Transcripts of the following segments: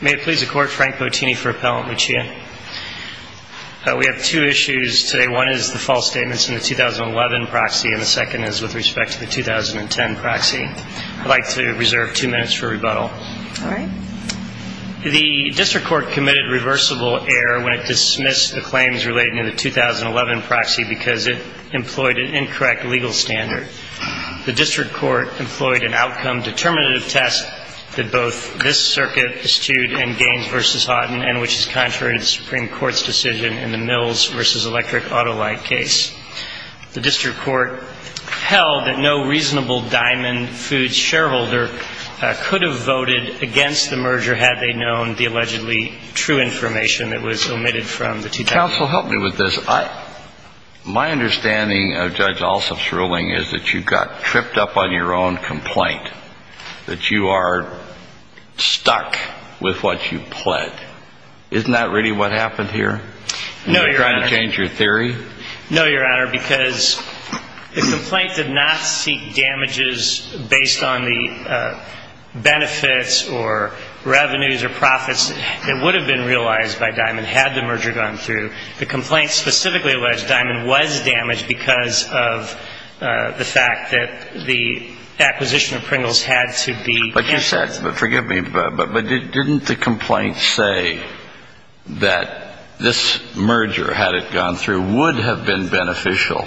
May it please the Court, Frank Bottini for Appellant Lucia. We have two issues today. One is the false statements in the 2011 proxy, and the second is with respect to the 2010 proxy. I'd like to reserve two minutes for rebuttal. All right. The district court committed reversible error when it dismissed the claims related to the 2011 proxy because it employed an incorrect legal standard. The district court employed an outcome determinative test that both this circuit eschewed in Gaines v. Houghton and which is contrary to the Supreme Court's decision in the Mills v. Electric Autolite case. The district court held that no reasonable Diamond Foods shareholder could have voted against the merger had they known the allegedly true information that was omitted from the 2010 proxy. Counsel, help me with this. My understanding of Judge Alsop's ruling is that you got tripped up on your own complaint, that you are stuck with what you pled. Isn't that really what happened here? No, Your Honor. Are you trying to change your theory? No, Your Honor, because the complaint did not seek damages based on the benefits or revenues or profits that would have been realized by Diamond had the merger gone through. The complaint specifically alleged Diamond was damaged because of the fact that the acquisition of Pringles had to be canceled. But you said, forgive me, but didn't the complaint say that this merger, had it gone through, would have been beneficial?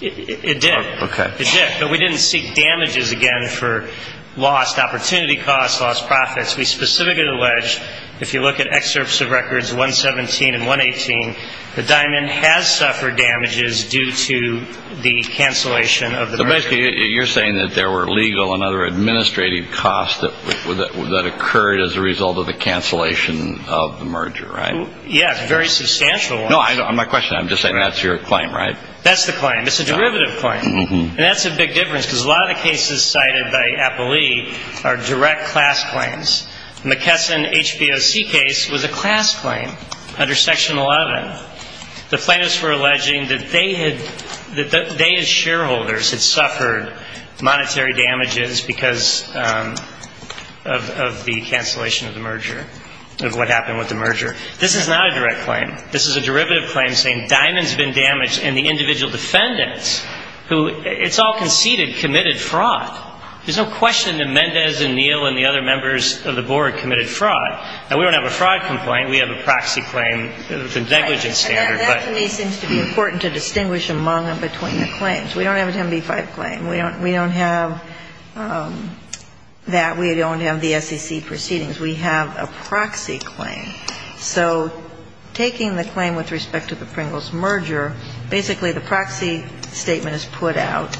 It did. Okay. It did. But we didn't seek damages again for lost opportunity costs, lost profits. We specifically alleged, if you look at excerpts of records 117 and 118, that Diamond has suffered damages due to the cancellation of the merger. But basically, you're saying that there were legal and other administrative costs that occurred as a result of the cancellation of the merger, right? Yes, very substantial ones. No, my question, I'm just saying that's your claim, right? That's the claim. It's a derivative claim. And that's a big difference, because a lot of the cases cited by Appellee are direct class claims. McKesson HBOC case was a class claim under Section 11. The plaintiffs were alleging that they had, that they as shareholders had suffered monetary damages because of the cancellation of the merger, of what happened with the merger. This is not a direct claim. This is a derivative claim saying Diamond's been damaged, and the individual defendants who, it's all conceded, committed fraud. There's no question that Mendez and Neal and the other members of the board committed fraud. Now, we don't have a fraud complaint. We have a proxy claim. It's a negligent standard. And that, to me, seems to be important to distinguish among and between the claims. We don't have a 10b-5 claim. We don't have that. We don't have the SEC proceedings. We have a proxy claim. So taking the claim with respect to the Pringles merger, basically the proxy statement is put out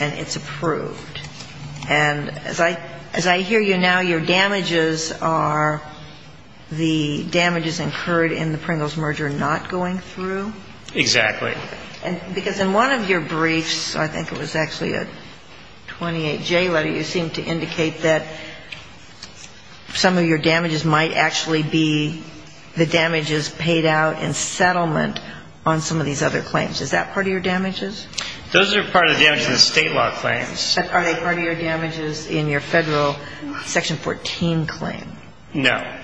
and it's approved. And as I hear you now, your damages are the damages incurred in the Pringles merger not going through? Exactly. Because in one of your briefs, I think it was actually a 28J letter, you seemed to indicate that some of your damages might actually be the damages paid out in settlement on some of these other claims. Is that part of your damages? Those are part of the damages in the state law claims. Are they part of your damages in your federal Section 14 claim? No.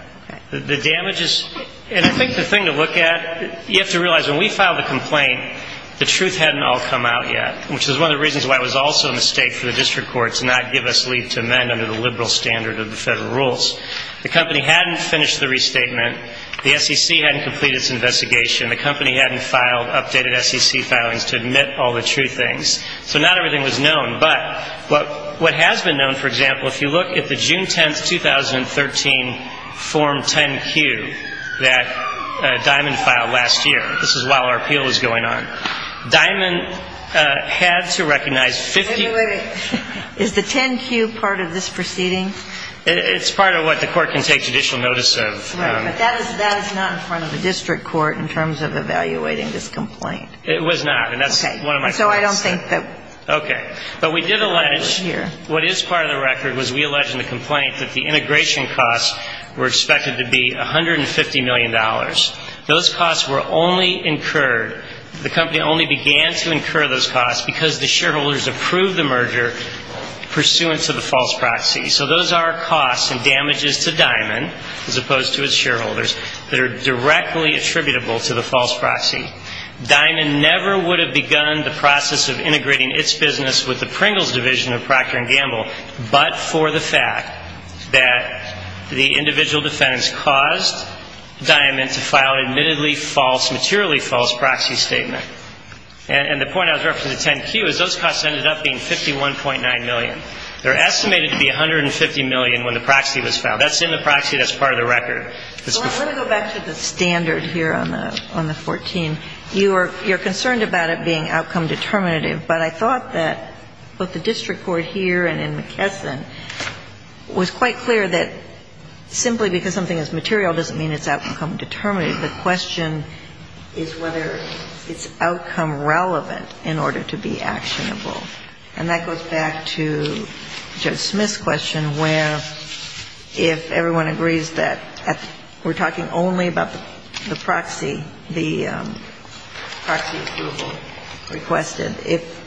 The damages, and I think the thing to look at, you have to realize when we filed the complaint, the truth hadn't all come out yet, which was one of the reasons why it was also a mistake for the district court to not give us leave to amend under the liberal standard of the federal rules. The company hadn't finished the restatement. The SEC hadn't completed its investigation. The company hadn't filed updated SEC filings to admit all the true things. So not everything was known. But what has been known, for example, if you look at the June 10, 2013 Form 10-Q that Diamond filed last year, this is while our appeal was going on, Diamond had to recognize 50 Wait a minute. Is the 10-Q part of this proceeding? It's part of what the court can take judicial notice of. Right. But that is not in front of the district court in terms of evaluating this complaint. It was not. And that's one of my thoughts. Okay. So I don't think that. Okay. But we did allege, what is part of the record was we allege in the complaint that the integration costs were expected to be $150 million. Those costs were only incurred, the company only began to incur those costs because the shareholders approved the merger pursuant to the false proxy. So those are costs and damages to Diamond as opposed to its shareholders that are directly attributable to the false proxy. Diamond never would have begun the process of integrating its business with the Pringles Division of Procter & Gamble but for the fact that the individual defendants caused Diamond to file an admittedly false, materially false proxy statement. And the point I was referring to 10-Q is those costs ended up being $51.9 million. They're estimated to be $150 million when the proxy was filed. That's in the proxy. That's part of the record. Let me go back to the standard here on the 14. You're concerned about it being outcome determinative, but I thought that both the district court here and in McKesson was quite clear that simply because something is material doesn't mean it's outcome determinative. The question is whether it's outcome relevant in order to be actionable. And that goes back to Judge Smith's question where if everyone agrees that we're talking only about the proxy, the proxy approval requested, if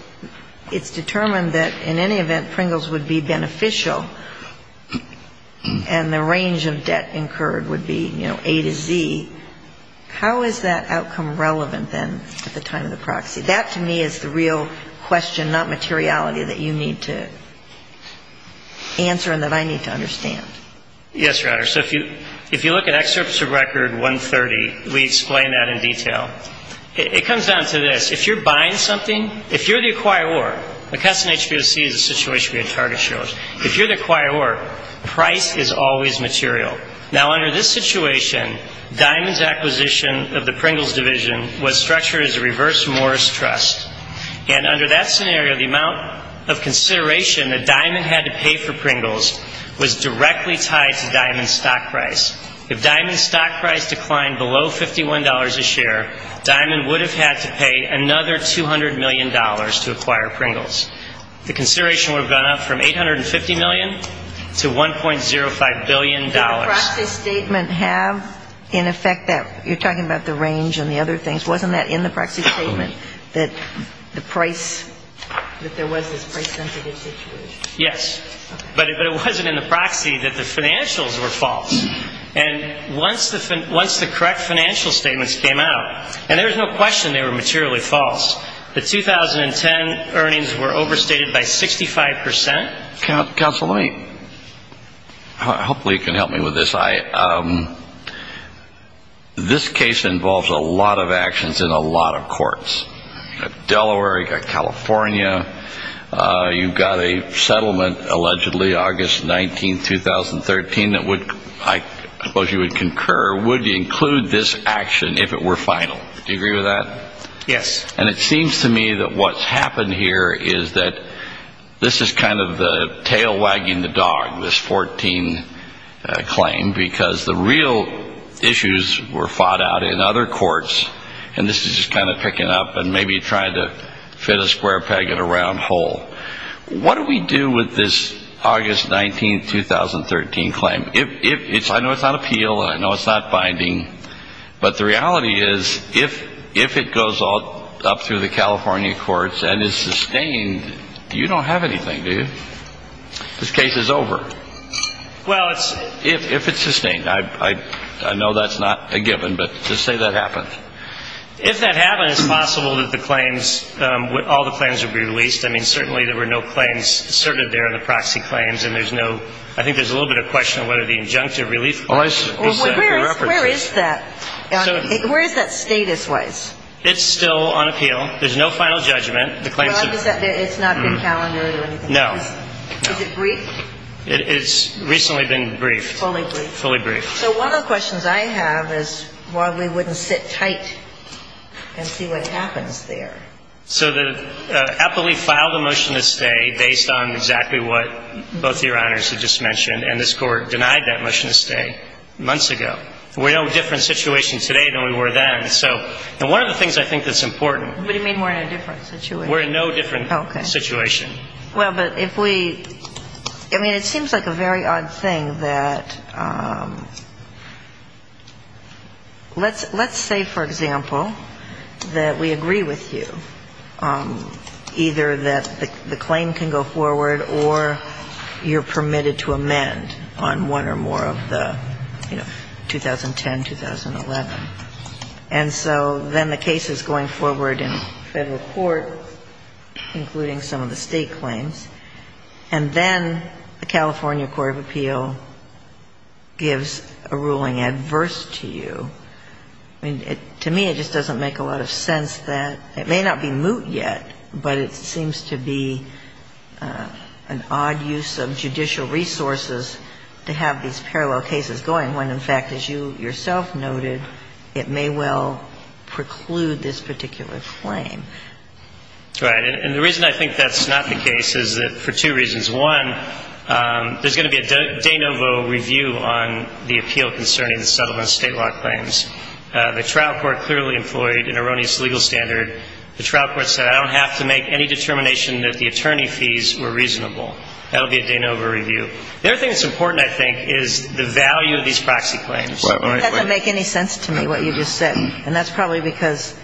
it's determined that in any event Pringles would be beneficial and the range of debt incurred would be, you know, A to Z, how is that outcome relevant then at the time of the proxy? That to me is the real question, not materiality, that you need to answer and that I need to understand. Yes, Your Honor. So if you look at excerpts of record 130, we explain that in detail. It comes down to this. If you're buying something, if you're the acquirer, McKesson HBOC is a situation we had target shareholders. If you're the acquirer, price is always material. Now, under this situation, Diamond's acquisition of the Pringles division was structured as a reverse Morris trust. And under that scenario, the amount of consideration that Diamond had to pay for Pringles was directly tied to Diamond's stock price. If Diamond's stock price declined below $51 a share, Diamond would have had to pay another $200 million to acquire Pringles. The consideration would have gone up from $850 million to $1.05 billion. Did the proxy statement have in effect that, you're talking about the range and the other things, wasn't that in the proxy statement that the price, that there was this price sensitive situation? Yes. But it wasn't in the proxy that the financials were false. And once the correct financial statements came out, and there was no question they were materially false, the 2010 earnings were overstated by 65%. Counsel, hopefully you can help me with this. This case involves a lot of actions in a lot of courts. You've got Delaware. You've got California. You've got a settlement, allegedly August 19, 2013, that I suppose you would concur, would include this action if it were final. Do you agree with that? Yes. And it seems to me that what's happened here is that this is kind of the tail wagging the dog, this 14 claim, because the real issues were fought out in other courts, and this is just kind of picking up and maybe trying to fit a square peg in a round hole. What do we do with this August 19, 2013 claim? I know it's not appeal. I know it's not binding. But the reality is if it goes up through the California courts and is sustained, you don't have anything, do you? This case is over. Well, it's ‑‑ If it's sustained. I know that's not a given, but just say that happened. If that happened, it's possible that the claims, all the claims would be released. I mean, certainly there were no claims asserted there in the proxy claims, and there's no ‑‑ I think there's a little bit of a question of whether the injunctive relief clause is set in reference. Where is that? Where is that status-wise? It's still on appeal. There's no final judgment. The claims are ‑‑ It's not been calendared or anything? No. Is it brief? It's recently been briefed. Fully briefed. Fully briefed. So one of the questions I have is why we wouldn't sit tight and see what happens there. So the appellee filed a motion to stay based on exactly what both Your Honors have just mentioned, and this Court denied that motion to stay months ago. We're in a different situation today than we were then. And one of the things I think that's important ‑‑ What do you mean we're in a different situation? We're in no different situation. Okay. Well, but if we ‑‑ I mean, it seems like a very odd thing that let's say, for example, that we agree with you, either that the claim can go forward or you're permitted to amend on one or more of the, you know, 2010, 2011. And so then the case is going forward in federal court, including some of the state claims, and then the California Court of Appeal gives a ruling adverse to you. I mean, to me, it just doesn't make a lot of sense that ‑‑ it may not be moot yet, but it seems to be an odd use of judicial resources to have these parallel cases going when, in fact, as you yourself noted, it may well preclude this particular claim. Right. And the reason I think that's not the case is that for two reasons. One, there's going to be a de novo review on the appeal concerning the settlement of state law claims. The trial court clearly employed an erroneous legal standard. The trial court said I don't have to make any determination that the attorney fees were reasonable. That will be a de novo review. The other thing that's important, I think, is the value of these proxy claims. Right. It doesn't make any sense to me what you just said, and that's probably because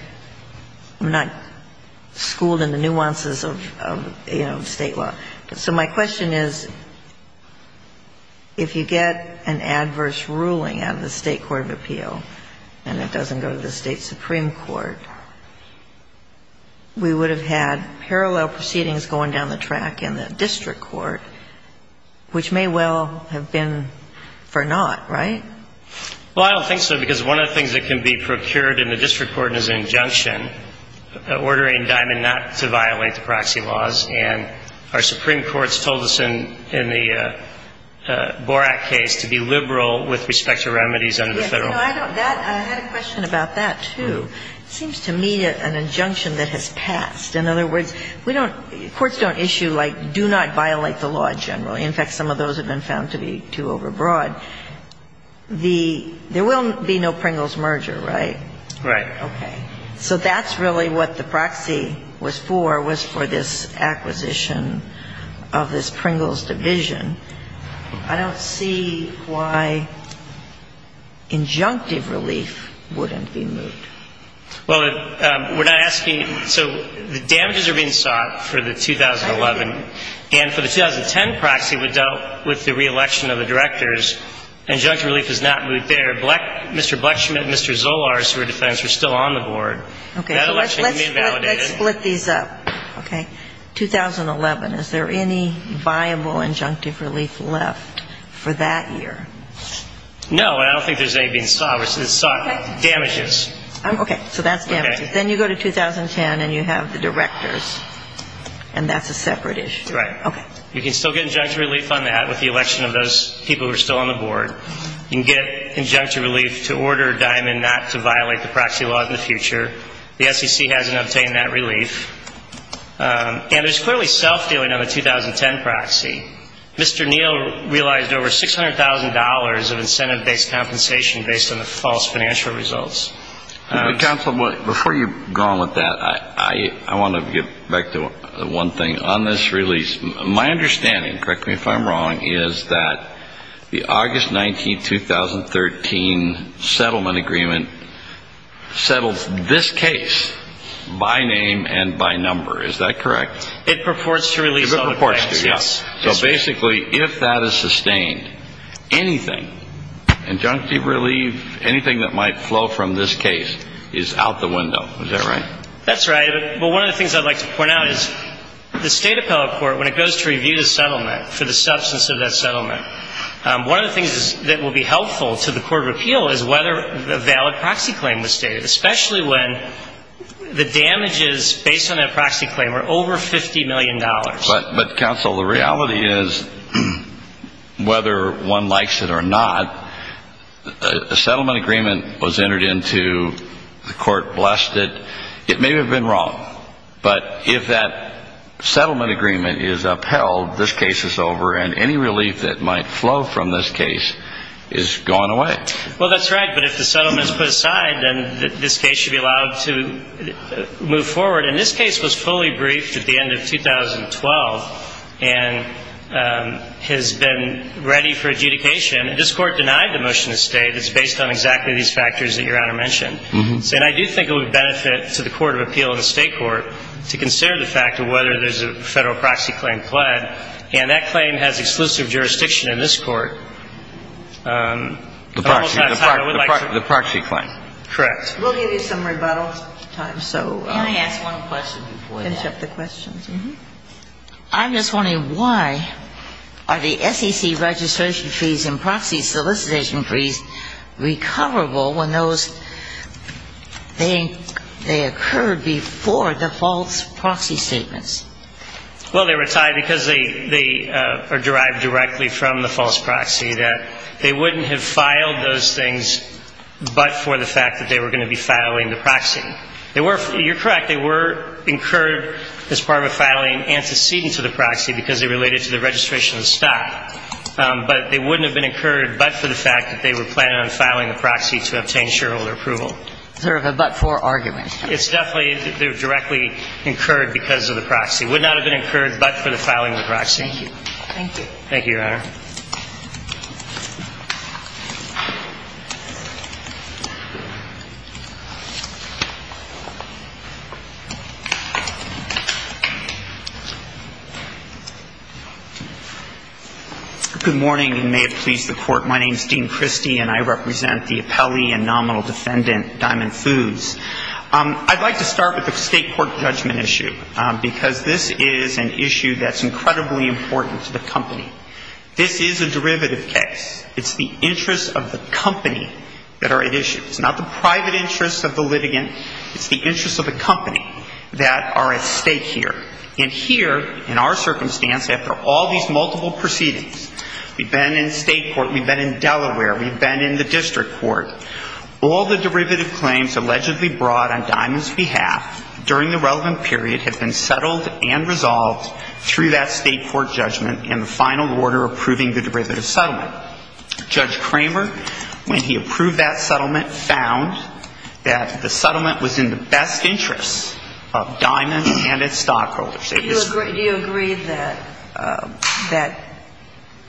I'm not schooled in the nuances of, you know, state law. But so my question is, if you get an adverse ruling out of the State court of appeal and it doesn't go to the State supreme court, we would have had parallel proceedings going down the track in the district court, which may well have been for naught, right? Well, I don't think so, because one of the things that can be procured in the district court is an injunction ordering Diamond not to violate the proxy laws, and our supreme courts told us in the Borak case to be liberal with respect to remedies under the federal law. I had a question about that, too. It seems to me an injunction that has passed. In other words, courts don't issue, like, do not violate the law generally. In fact, some of those have been found to be too overbroad. There will be no Pringles merger, right? Right. Okay. So that's really what the proxy was for, was for this acquisition of this Pringles division. I don't see why injunctive relief wouldn't be moved. Well, we're not asking you. So the damages are being sought for the 2011, and for the 2010 proxy, we dealt with the reelection of the directors. Injunctive relief is not moved there. Mr. Blechschmidt and Mr. Zolarz, who are defendants, are still on the board. Okay. That election can be validated. Let's split these up, okay? 2011, is there any viable injunctive relief left for that year? No, and I don't think there's any being sought. It's sought damages. Okay. So that's damages. Then you go to 2010, and you have the directors, and that's a separate issue. Right. Okay. You can still get injunctive relief on that with the election of those people who are still on the board. You can get injunctive relief to order Diamond not to violate the proxy law in the future. The SEC hasn't obtained that relief. And there's clearly self-dealing on the 2010 proxy. Mr. Neal realized over $600,000 of incentive-based compensation based on the false financial results. Counsel, before you go on with that, I want to get back to one thing. My understanding, correct me if I'm wrong, is that the August 19, 2013 settlement agreement settles this case by name and by number. Is that correct? It purports to release all the claims. It purports to, yes. So basically, if that is sustained, anything, injunctive relief, anything that might flow from this case is out the window. Is that right? That's right. Well, one of the things I'd like to point out is the State Appellate Court, when it goes to review the settlement for the substance of that settlement, one of the things that will be helpful to the court of appeal is whether a valid proxy claim was stated, especially when the damages based on that proxy claim are over $50 million. But, Counsel, the reality is, whether one likes it or not, a settlement agreement was entered into, the court blessed it. It may have been wrong, but if that settlement agreement is upheld, this case is over, and any relief that might flow from this case is gone away. Well, that's right. But if the settlement is put aside, then this case should be allowed to move forward. And this case was fully briefed at the end of 2012 and has been ready for adjudication. And this Court denied the motion to stay that's based on exactly these factors that Your Honor mentioned. And I do think it would benefit to the court of appeal and the State Court to consider the fact of whether there's a Federal proxy claim pled. And that claim has exclusive jurisdiction in this Court. The proxy claim. Correct. We'll give you some rebuttal time. Can I ask one question before we finish up the questions? I'm just wondering why are the SEC registration fees and proxy solicitation fees recoverable when those they occurred before the false proxy statements? Well, they were tied because they are derived directly from the false proxy, that they wouldn't have filed those things but for the fact that they were going to be filing the proxy. You're correct. They were incurred as part of a filing antecedent to the proxy because they related to the registration of the stock. But they wouldn't have been incurred but for the fact that they were planning on filing the proxy to obtain shareholder approval. Is there a but-for argument? It's definitely directly incurred because of the proxy. It would not have been incurred but for the filing of the proxy. Thank you. Thank you, Your Honor. Good morning and may it please the Court. My name is Dean Christie and I represent the appellee and nominal defendant, Diamond Foods. I'd like to start with the state court judgment issue because this is an issue that's incredibly important to the company. This is a derivative case. It's the interests of the company that are at issue. It's not the private interests of the litigant. It's the interests of the company that are at stake here. And here, in our circumstance, after all these multiple proceedings, we've been in state court, we've been in Delaware, we've been in the district court. All the derivative claims allegedly brought on Diamond's behalf during the relevant period have been settled and resolved through that state court judgment in the final order approving the derivative settlement. Judge Kramer, when he approved that settlement, found that the settlement was in the best interests of Diamond and its stockholders. Do you agree that that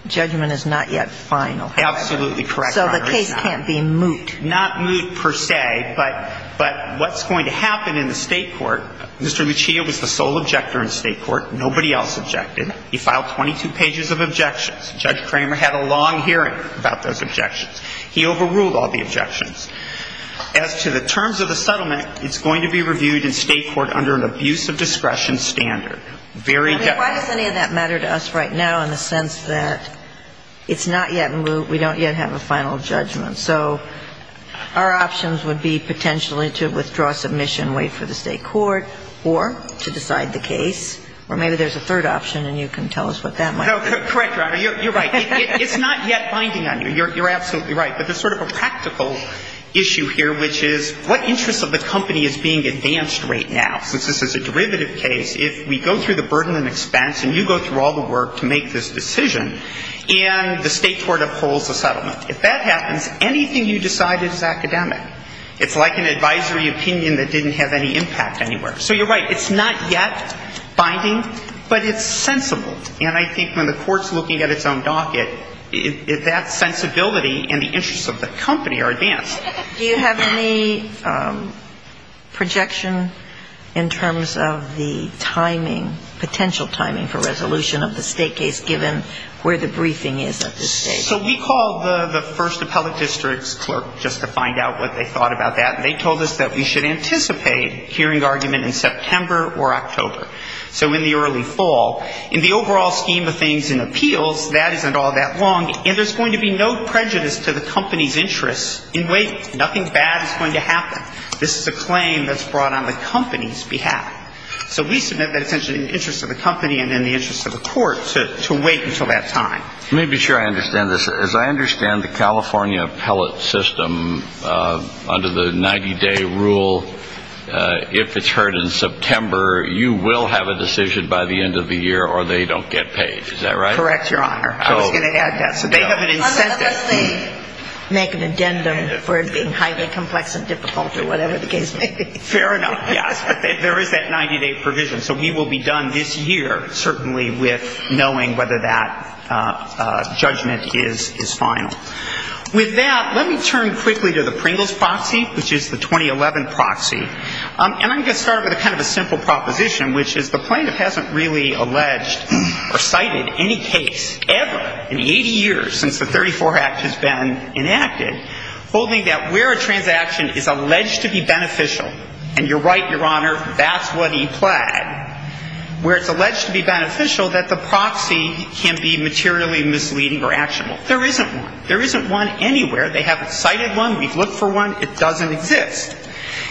judgment is not yet final? Absolutely correct, Your Honor. So the case can't be moot. Not moot per se, but what's going to happen in the state court, Mr. Mechia was the sole objector in state court. Nobody else objected. He filed 22 pages of objections. Judge Kramer had a long hearing about those objections. He overruled all the objections. As to the terms of the settlement, it's going to be reviewed in state court under an abuse of discretion standard. Why does any of that matter to us right now in the sense that it's not yet moot, we don't yet have a final judgment? So our options would be potentially to withdraw submission, wait for the state court, or to decide the case. Or maybe there's a third option and you can tell us what that might be. Correct, Your Honor. You're right. It's not yet binding on you. You're absolutely right. But there's sort of a practical issue here, which is what interest of the company is being advanced right now? Since this is a derivative case, if we go through the burden and expense and you go through all the work to make this decision, and the state court upholds the settlement, if that happens, anything you decide is academic. It's like an advisory opinion that didn't have any impact anywhere. So you're right. It's not yet binding, but it's sensible. And I think when the court's looking at its own docket, that sensibility and the interest of the company are advanced. Do you have any projection in terms of the timing, potential timing for resolution of the state case, given where the briefing is at this stage? So we called the first appellate district's clerk just to find out what they thought about that. And they told us that we should anticipate hearing argument in September or October, so in the early fall. In the overall scheme of things in appeals, that isn't all that long. And there's going to be no prejudice to the company's interests in waiting. Nothing bad is going to happen. This is a claim that's brought on the company's behalf. So we submit that essentially in the interest of the company and in the interest of the court to wait until that time. Let me be sure I understand this. As I understand the California appellate system, under the 90-day rule, if it's heard in September, you will have a decision by the end of the year or they don't get paid. Is that right? Correct, Your Honor. I was going to add that. So they have an incentive. Unless they make an addendum for it being highly complex and difficult or whatever the case may be. Fair enough, yes. But there is that 90-day provision. So we will be done this year certainly with knowing whether that judgment is final. With that, let me turn quickly to the Pringles proxy, which is the 2011 proxy. And I'm going to start with kind of a simple proposition, which is the plaintiff hasn't really alleged or cited any case ever in 80 years since the 34 Act has been enacted, holding that where a transaction is alleged to be beneficial, and you're right, Your Honor, that's what he pled, where it's alleged to be beneficial, that the proxy can be materially misleading or actionable. There isn't one. There isn't one anywhere. They haven't cited one. We've looked for one. It doesn't exist.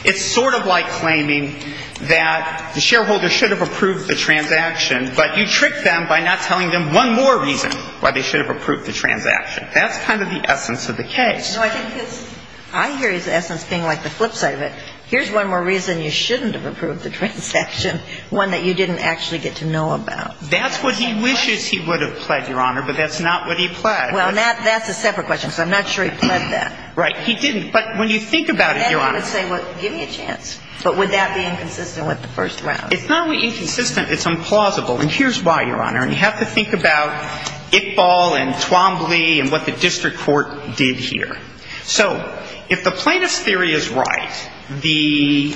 It's sort of like claiming that the shareholder should have approved the transaction, but you tricked them by not telling them one more reason why they should have approved the transaction. That's kind of the essence of the case. No, I think it's – I hear his essence being like the flip side of it. Here's one more reason you shouldn't have approved the transaction, one that you didn't actually get to know about. That's what he wishes he would have pled, Your Honor, but that's not what he pled. Well, that's a separate question, so I'm not sure he pled that. Right. He didn't. But when you think about it, Your Honor – I guess he would say, well, give me a chance. But would that be inconsistent with the first round? It's not only inconsistent, it's implausible. And here's why, Your Honor. And you have to think about Iqbal and Twombly and what the district court did here. So if the plaintiff's theory is right, the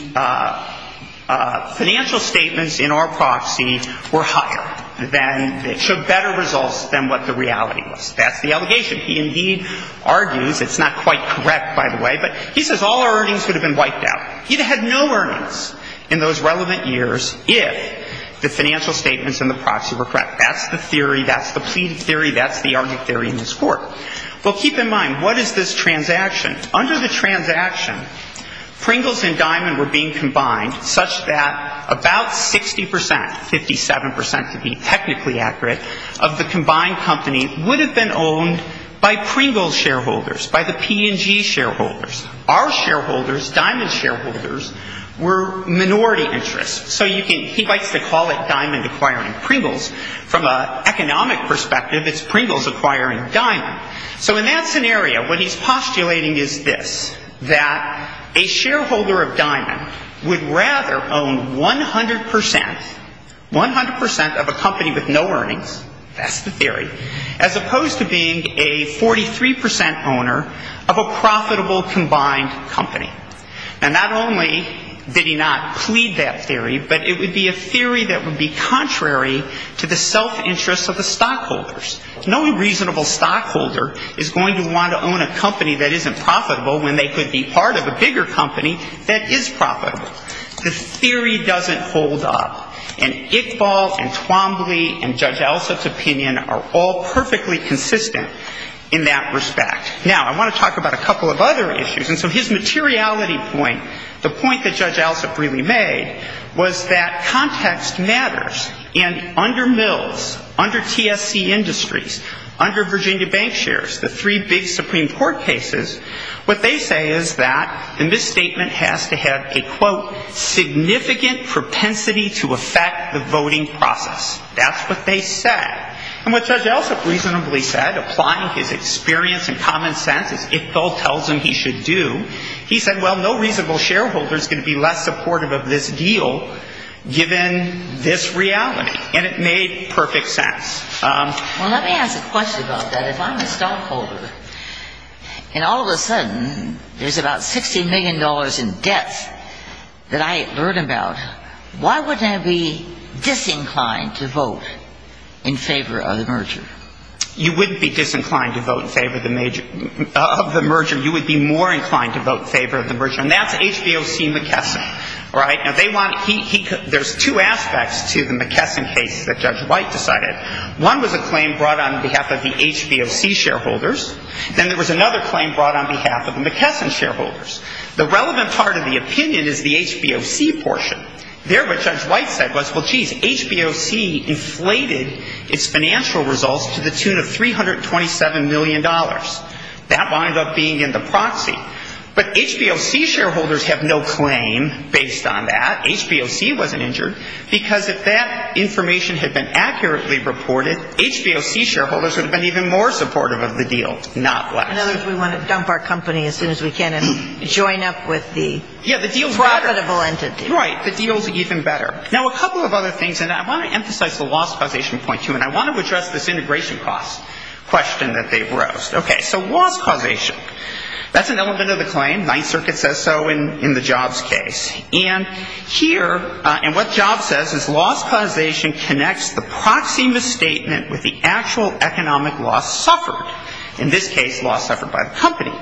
financial statements in our proxy were higher than – showed better results than what the reality was. That's the allegation. He indeed argues – it's not quite correct, by the way, but he says all earnings would have been wiped out. He'd have had no earnings in those relevant years if the financial statements in the proxy were correct. That's the theory. That's the plea theory. That's the argument theory in this court. Well, keep in mind, what is this transaction? Under the transaction, Pringles and Diamond were being combined such that about 60 percent – by Pringles shareholders, by the P&G shareholders. Our shareholders, Diamond's shareholders, were minority interests. So you can – he likes to call it Diamond acquiring Pringles. From an economic perspective, it's Pringles acquiring Diamond. So in that scenario, what he's postulating is this, that a shareholder of Diamond would rather own 100 percent – 100 percent of a company with no earnings – that's the theory – as opposed to being a 43 percent owner of a profitable combined company. And not only did he not plead that theory, but it would be a theory that would be contrary to the self-interest of the stockholders. No reasonable stockholder is going to want to own a company that isn't profitable when they could be part of a bigger company that is profitable. The theory doesn't hold up. And Iqbal and Twombly and Judge Alsup's opinion are all perfectly consistent in that respect. Now, I want to talk about a couple of other issues. And so his materiality point, the point that Judge Alsup really made, was that context matters. And under Mills, under TSC Industries, under Virginia Bank Shares, the three big Supreme Court cases, what they say is that the misstatement has to have a, quote, significant propensity to affect the voting process. That's what they said. And what Judge Alsup reasonably said, applying his experience and common sense, as Iqbal tells him he should do, he said, well, no reasonable shareholder is going to be less supportive of this deal given this reality. And it made perfect sense. Well, let me ask a question about that. If I'm a stockholder and all of a sudden there's about $60 million in debts that I learn about, why wouldn't I be disinclined to vote in favor of the merger? You wouldn't be disinclined to vote in favor of the merger. You would be more inclined to vote in favor of the merger. And that's HBOC-McKesson. There's two aspects to the McKesson case that Judge White decided. One was a claim brought on behalf of the HBOC shareholders. Then there was another claim brought on behalf of the McKesson shareholders. The relevant part of the opinion is the HBOC portion. There what Judge White said was, well, geez, HBOC inflated its financial results to the tune of $327 million. That wound up being in the proxy. But HBOC shareholders have no claim based on that. HBOC wasn't injured because if that information had been accurately reported, HBOC shareholders would have been even more supportive of the deal, not less. In other words, we want to dump our company as soon as we can and join up with the profitable entity. Yeah, the deal's better. Right. The deal's even better. Now, a couple of other things, and I want to emphasize the loss causation point, too, and I want to address this integration cost question that they've raised. Okay. So loss causation. That's an element of the claim. Ninth Circuit says so in the Jobs case. And here, and what Jobs says is loss causation connects the proxy misstatement with the actual economic loss suffered. In this case, loss suffered by the company.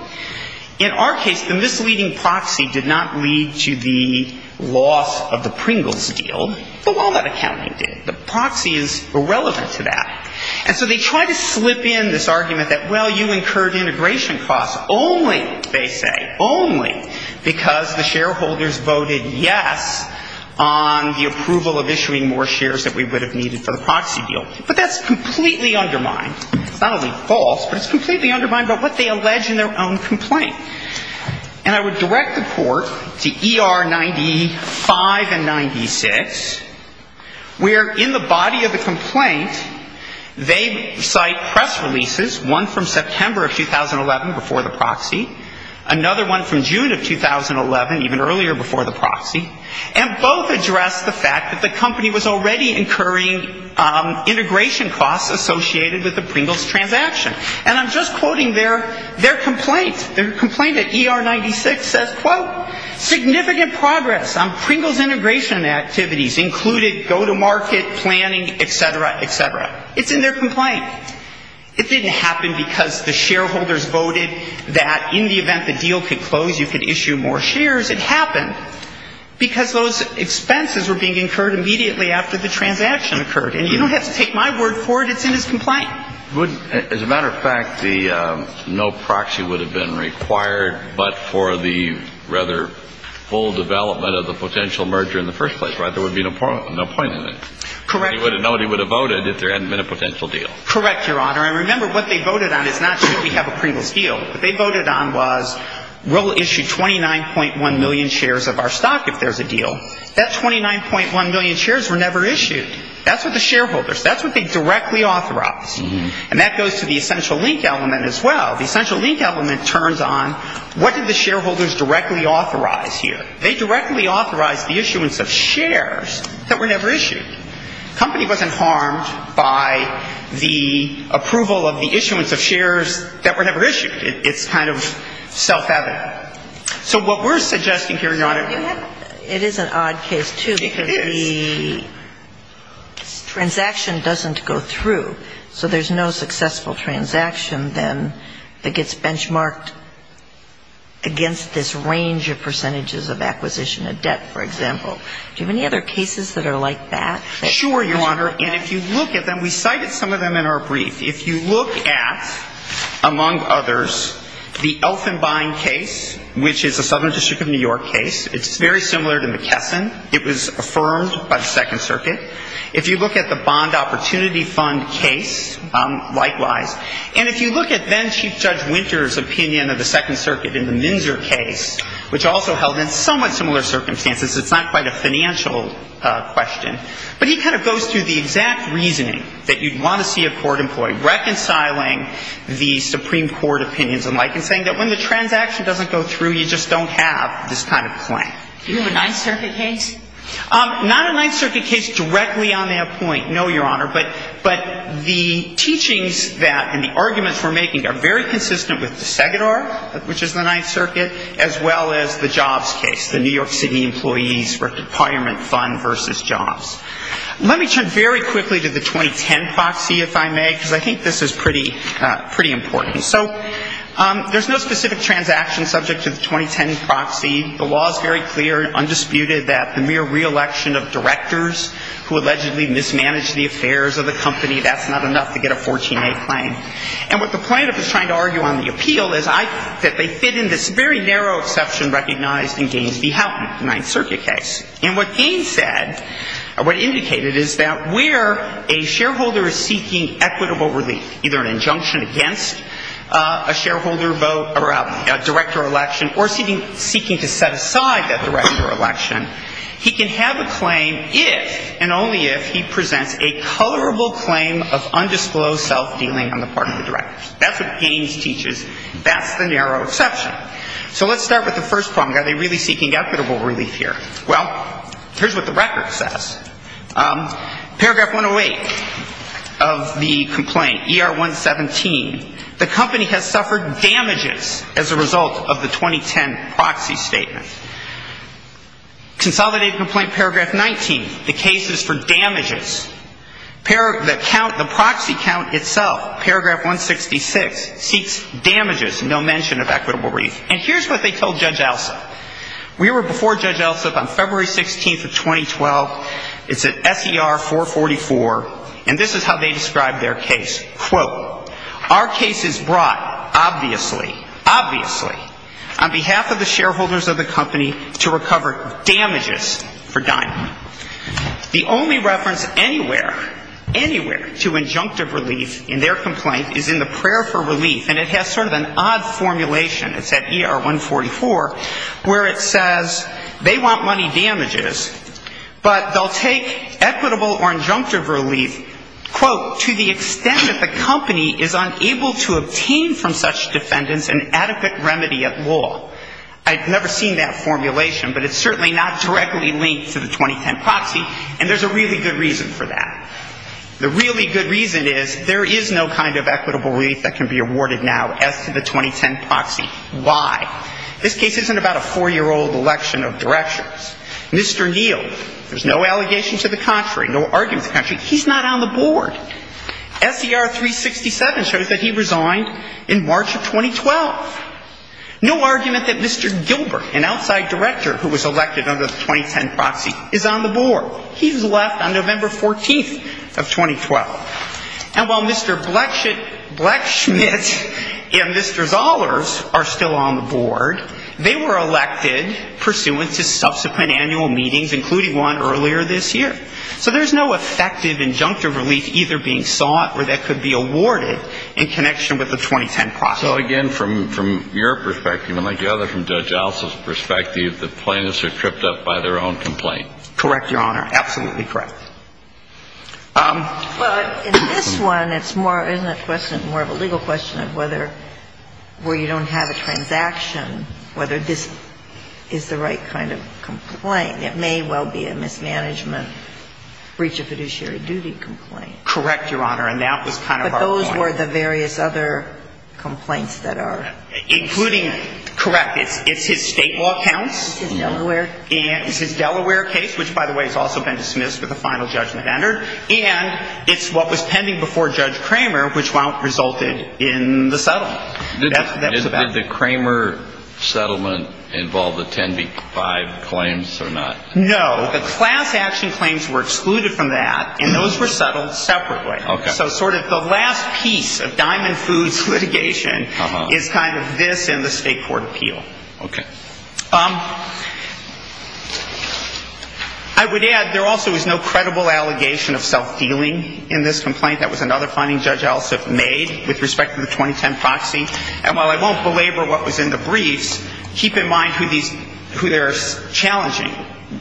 In our case, the misleading proxy did not lead to the loss of the Pringles deal, but walnut accounting did. The proxy is irrelevant to that. And so they try to slip in this argument that, well, you incurred integration costs only, they say, only because the shareholders voted yes on the approval of issuing more shares that we would have needed for the proxy deal. But that's completely undermined. It's not only false, but it's completely undermined by what they allege in their own complaint. And I would direct the court to ER 95 and 96, where in the body of the complaint they cite press releases, one from September of 2011 before the proxy, another one from June of 2011, even earlier before the proxy, and both address the fact that the company was already incurring integration costs associated with the Pringles transaction. And I'm just quoting their complaint. Their complaint at ER 96 says, quote, significant progress on Pringles integration activities included go-to-market planning, et cetera, et cetera. It's in their complaint. It didn't happen because the shareholders voted that in the event the deal could close, you could issue more shares. It happened because those expenses were being incurred immediately after the transaction occurred. And you don't have to take my word for it. It's in his complaint. As a matter of fact, the no proxy would have been required, but for the rather full development of the potential merger in the first place, right? There would be no point in it. Correct. Nobody would have voted if there hadn't been a potential deal. Correct, Your Honor. I remember what they voted on is not should we have a Pringles deal. What they voted on was we'll issue 29.1 million shares of our stock if there's a deal. That 29.1 million shares were never issued. That's what the shareholders, that's what they directly authorized. And that goes to the essential link element as well. The essential link element turns on what did the shareholders directly authorize here. They directly authorized the issuance of shares that were never issued. The company wasn't harmed by the approval of the issuance of shares that were never issued. It's kind of self-evident. So what we're suggesting here, Your Honor. It is an odd case, too. It is. Because the transaction doesn't go through. So there's no successful transaction then that gets benchmarked against this range of percentages of acquisition of debt, for example. Do you have any other cases that are like that? Sure, Your Honor. And if you look at them, we cited some of them in our brief. If you look at, among others, the Elfenbein case, which is a Southern District of New York case. It's very similar to McKesson. It was affirmed by the Second Circuit. If you look at the Bond Opportunity Fund case, likewise. And if you look at then-Chief Judge Winter's opinion of the Second Circuit in the Minzer case, which also held in somewhat similar circumstances, it's not quite a financial question, but he kind of goes through the exact reasoning that you'd want to see a court employee reconciling the Supreme Court opinions alike and saying that when the transaction doesn't go through, you just don't have this kind of claim. Do you have a Ninth Circuit case? Not a Ninth Circuit case directly on that point, no, Your Honor. But the teachings that and the arguments we're making are very consistent with the Segador, which is the Ninth Circuit, as well as the jobs case, the New York City Employees Requirement Fund versus jobs. Let me turn very quickly to the 2010 proxy, if I may, because I think this is pretty important. So there's no specific transaction subject to the 2010 proxy. The law is very clear and undisputed that the mere re-election of directors who allegedly mismanaged the affairs of the company, that's not enough to get a 14A claim. And what the plaintiff is trying to argue on the appeal is that they fit in this very narrow exception recognized in Gaines v. Houghton, the Ninth Circuit case. And what Gaines said or what he indicated is that where a shareholder is seeking equitable relief, either an injunction against a shareholder vote or a director election or seeking to set aside that director election, he can have a claim if and only if he presents a colorable claim of undisclosed self-dealing on the part of the director. That's what Gaines teaches. That's the narrow exception. So let's start with the first problem. Are they really seeking equitable relief here? Well, here's what the record says. Paragraph 108 of the complaint, ER 117, the company has suffered damages as a result of the 2010 proxy statement. Consolidated complaint paragraph 19, the case is for damages. The count, the proxy count itself, paragraph 166, seeks damages, no mention of equitable relief. And here's what they told Judge Alsup. We were before Judge Alsup on February 16th of 2012. It's at SER 444. And this is how they described their case. Quote, our case is brought, obviously, obviously, on behalf of the shareholders of the company to recover damages for diamond. The only reference anywhere, anywhere to injunctive relief in their complaint is in the prayer for relief. And it has sort of an odd formulation. It's at ER 144 where it says they want money damages, but they'll take equitable or injunctive relief, quote, to the extent that the company is unable to obtain from such defendants an adequate remedy at law. I've never seen that formulation, but it's certainly not directly linked to the 2010 proxy, and there's a really good reason for that. The really good reason is there is no kind of equitable relief that can be awarded now as to the 2010 proxy. Why? This case isn't about a four-year-old election of directors. Mr. Neal, there's no allegation to the contrary, no argument to the contrary. He's not on the board. SER 367 shows that he resigned in March of 2012. No argument that Mr. Gilbert, an outside director who was elected under the 2010 proxy, is on the board. He's left on November 14th of 2012. And while Mr. Blechschmidt and Mr. Zollers are still on the board, they were elected pursuant to subsequent annual meetings, including one earlier this year. So there's no effective injunctive relief either being sought or that could be awarded in connection with the 2010 proxy. So, again, from your perspective, and like the other from Judge Alsop's perspective, the plaintiffs are tripped up by their own complaint. Correct, Your Honor. Absolutely correct. Well, in this one, it's more of a legal question of whether where you don't have a transaction, whether this is the right kind of complaint. It may well be a mismanagement, breach of fiduciary duty complaint. Correct, Your Honor. And that was kind of our point. But those were the various other complaints that are included. Correct. It's his state law counts. It's his Delaware case. Which, by the way, has also been dismissed with a final judgment entered. And it's what was pending before Judge Kramer, which resulted in the settlement. Did the Kramer settlement involve the 10B5 claims or not? No. The class action claims were excluded from that, and those were settled separately. Okay. So sort of the last piece of Diamond Foods litigation is kind of this and the State Court appeal. Okay. I would add there also is no credible allegation of self-dealing in this complaint. That was another finding Judge Alsup made with respect to the 2010 proxy. And while I won't belabor what was in the briefs, keep in mind who these ñ who they're challenging.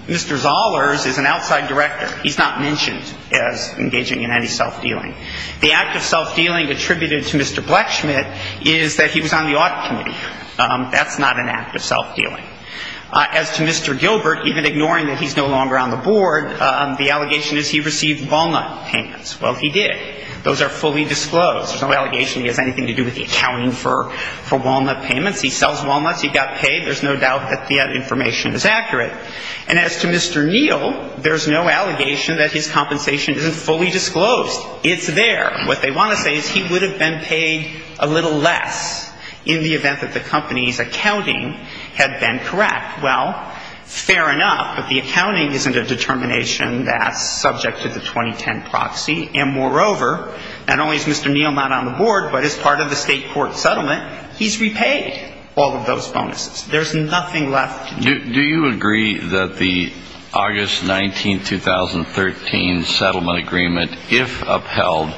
Mr. Zoller's is an outside director. He's not mentioned as engaging in any self-dealing. The act of self-dealing attributed to Mr. Blechschmidt is that he was on the audit committee. That's not an act of self-dealing. As to Mr. Gilbert, even ignoring that he's no longer on the board, the allegation is he received walnut payments. Well, he did. Those are fully disclosed. There's no allegation he has anything to do with the accounting for walnut payments. He sells walnuts. He got paid. There's no doubt that the information is accurate. And as to Mr. Neal, there's no allegation that his compensation isn't fully disclosed. It's there. What they want to say is he would have been paid a little less in the event that the company's accounting had been correct. Well, fair enough. But the accounting isn't a determination that's subject to the 2010 proxy. And moreover, not only is Mr. Neal not on the board, but as part of the state court settlement, he's repaid all of those bonuses. There's nothing left to do. Do you agree that the August 19th, 2013 settlement agreement, if upheld,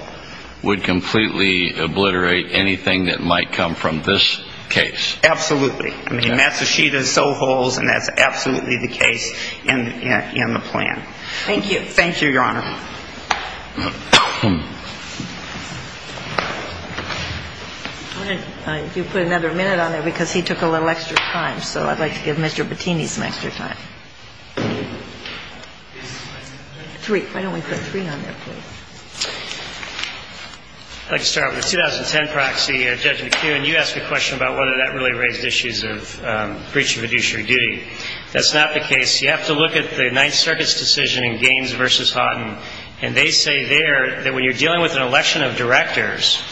would completely obliterate anything that might come from this case? Absolutely. I mean, Matsushita sold wholes, and that's absolutely the case in the plan. Thank you. Thank you, Your Honor. If you could put another minute on there, because he took a little extra time. So I'd like to give Mr. Bettini some extra time. Three. Why don't we put three on there, please? I'd like to start with the 2010 proxy. Judge McKeown, you asked a question about whether that really raised issues of breach of fiduciary duty. That's not the case. You have to look at the Ninth Circuit's decision in Gaines v. Houghton. And they say there that when you're dealing with an election of directors,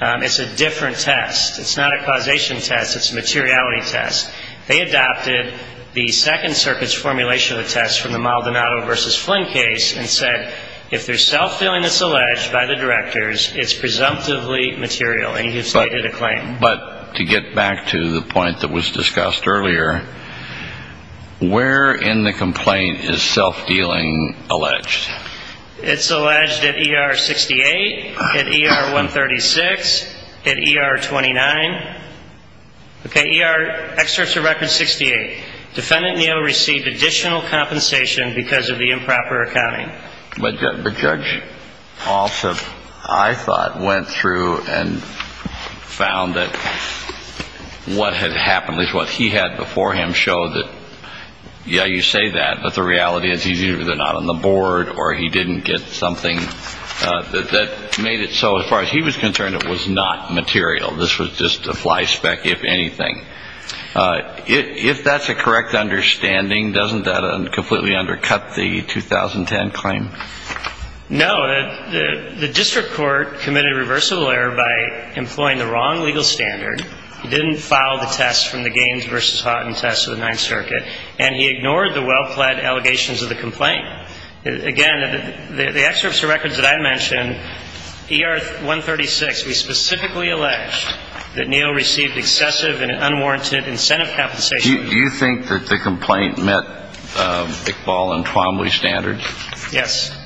it's a different test. It's not a causation test. It's a materiality test. They adopted the Second Circuit's formulation of the test from the Maldonado v. Flynn case and said if there's self-dealing that's alleged by the directors, it's presumptively material, and he has stated a claim. But to get back to the point that was discussed earlier, where in the complaint is self-dealing alleged? It's alleged at ER 68, at ER 136, at ER 29. Okay, ER, excerpts of record 68. Defendant Neal received additional compensation because of the improper accounting. But Judge Alsop, I thought, went through and found that what had happened, at least what he had before him, showed that, yeah, you say that, but the reality is he's either not on the board or he didn't get something that made it so, as far as he was concerned, it was not material. This was just a fly spec, if anything. If that's a correct understanding, doesn't that completely undercut the 2010 claim? No. The district court committed a reversible error by employing the wrong legal standard. He didn't file the test from the Gaines v. Haughton test of the Ninth Circuit, and he ignored the well-plaid allegations of the complaint. Again, the excerpts of records that I mentioned, ER 136, we specifically allege that Neal received excessive and unwarranted incentive compensation. Do you think that the complaint met Iqbal and Twombly standards? Yes.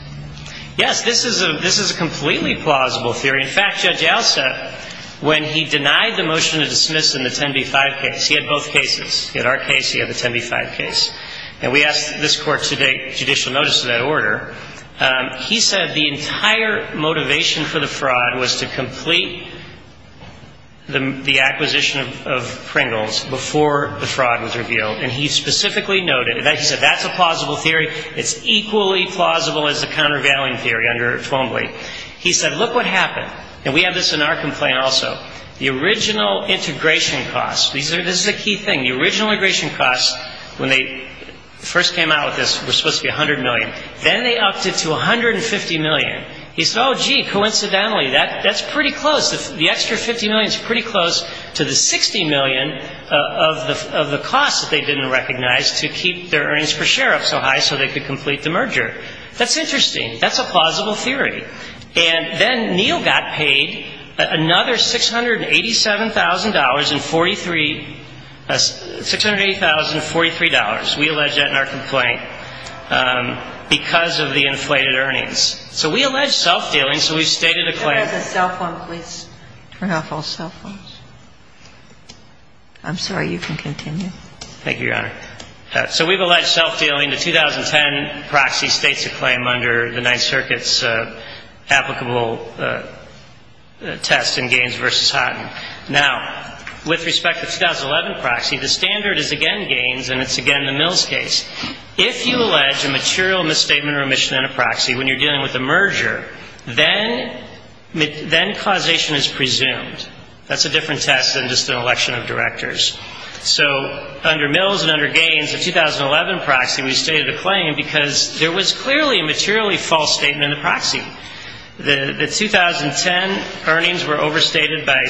Yes, this is a completely plausible theory. In fact, Judge Alsop, when he denied the motion to dismiss in the 10b-5 case, he had both cases. In our case, he had the 10b-5 case. And we asked this Court to take judicial notice of that order. He said the entire motivation for the fraud was to complete the acquisition of Pringles before the fraud was revealed. And he specifically noted that he said that's a plausible theory. It's equally plausible as the countervailing theory under Twombly. He said, look what happened. And we have this in our complaint also. The original integration costs, this is a key thing. The original integration costs, when they first came out with this, were supposed to be $100 million. Then they upped it to $150 million. He said, oh, gee, coincidentally, that's pretty close. The extra $50 million is pretty close to the $60 million of the costs that they didn't recognize to keep their earnings per share up so high so they could complete the merger. That's interesting. That's a plausible theory. And then Neal got paid another $687,000 and $680,043. We allege that in our complaint. Because of the inflated earnings. So we allege self-dealing. So we've stated a claim. Turn off the cell phone, please. Turn off all cell phones. I'm sorry, you can continue. Thank you, Your Honor. So we've alleged self-dealing. The 2010 proxy states a claim under the Ninth Circuit's applicable test in Gaines v. Houghton. Now, with respect to the 2011 proxy, the standard is again Gaines and it's again the Mills case. If you allege a material misstatement or omission in a proxy when you're dealing with a merger, then causation is presumed. That's a different test than just an election of directors. So under Mills and under Gaines, the 2011 proxy, we've stated a claim because there was clearly a materially false statement in the proxy. The 2010 earnings were overstated by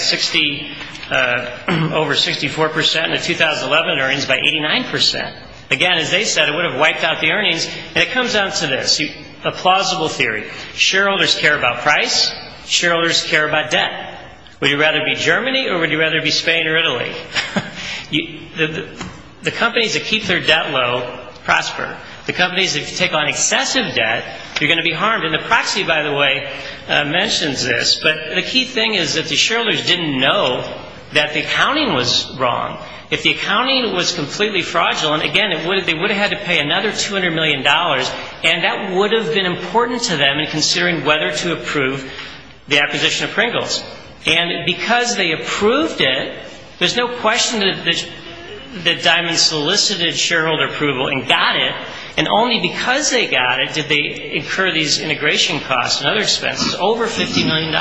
over 64 percent and the 2011 earnings by 89 percent. Again, as they said, it would have wiped out the earnings. And it comes down to this, a plausible theory. Shareholders care about price. Shareholders care about debt. Would you rather be Germany or would you rather be Spain or Italy? The companies that keep their debt low prosper. The companies that take on excessive debt, they're going to be harmed. And the proxy, by the way, mentions this. But the key thing is that the shareholders didn't know that the accounting was wrong. If the accounting was completely fraudulent, again, they would have had to pay another $200 million, and that would have been important to them in considering whether to approve the acquisition of Pringles. And because they approved it, there's no question that Diamond solicited shareholder approval and got it. And only because they got it did they incur these integration costs and other expenses, over $50 million.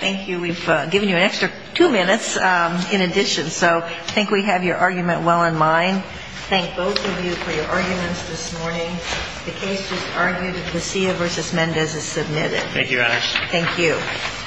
Thank you. We've given you an extra two minutes in addition. So I think we have your argument well in mind. Thank both of you for your arguments this morning. The case is argued. The Casilla v. Mendez is submitted. Thank you, Your Honors. Thank you.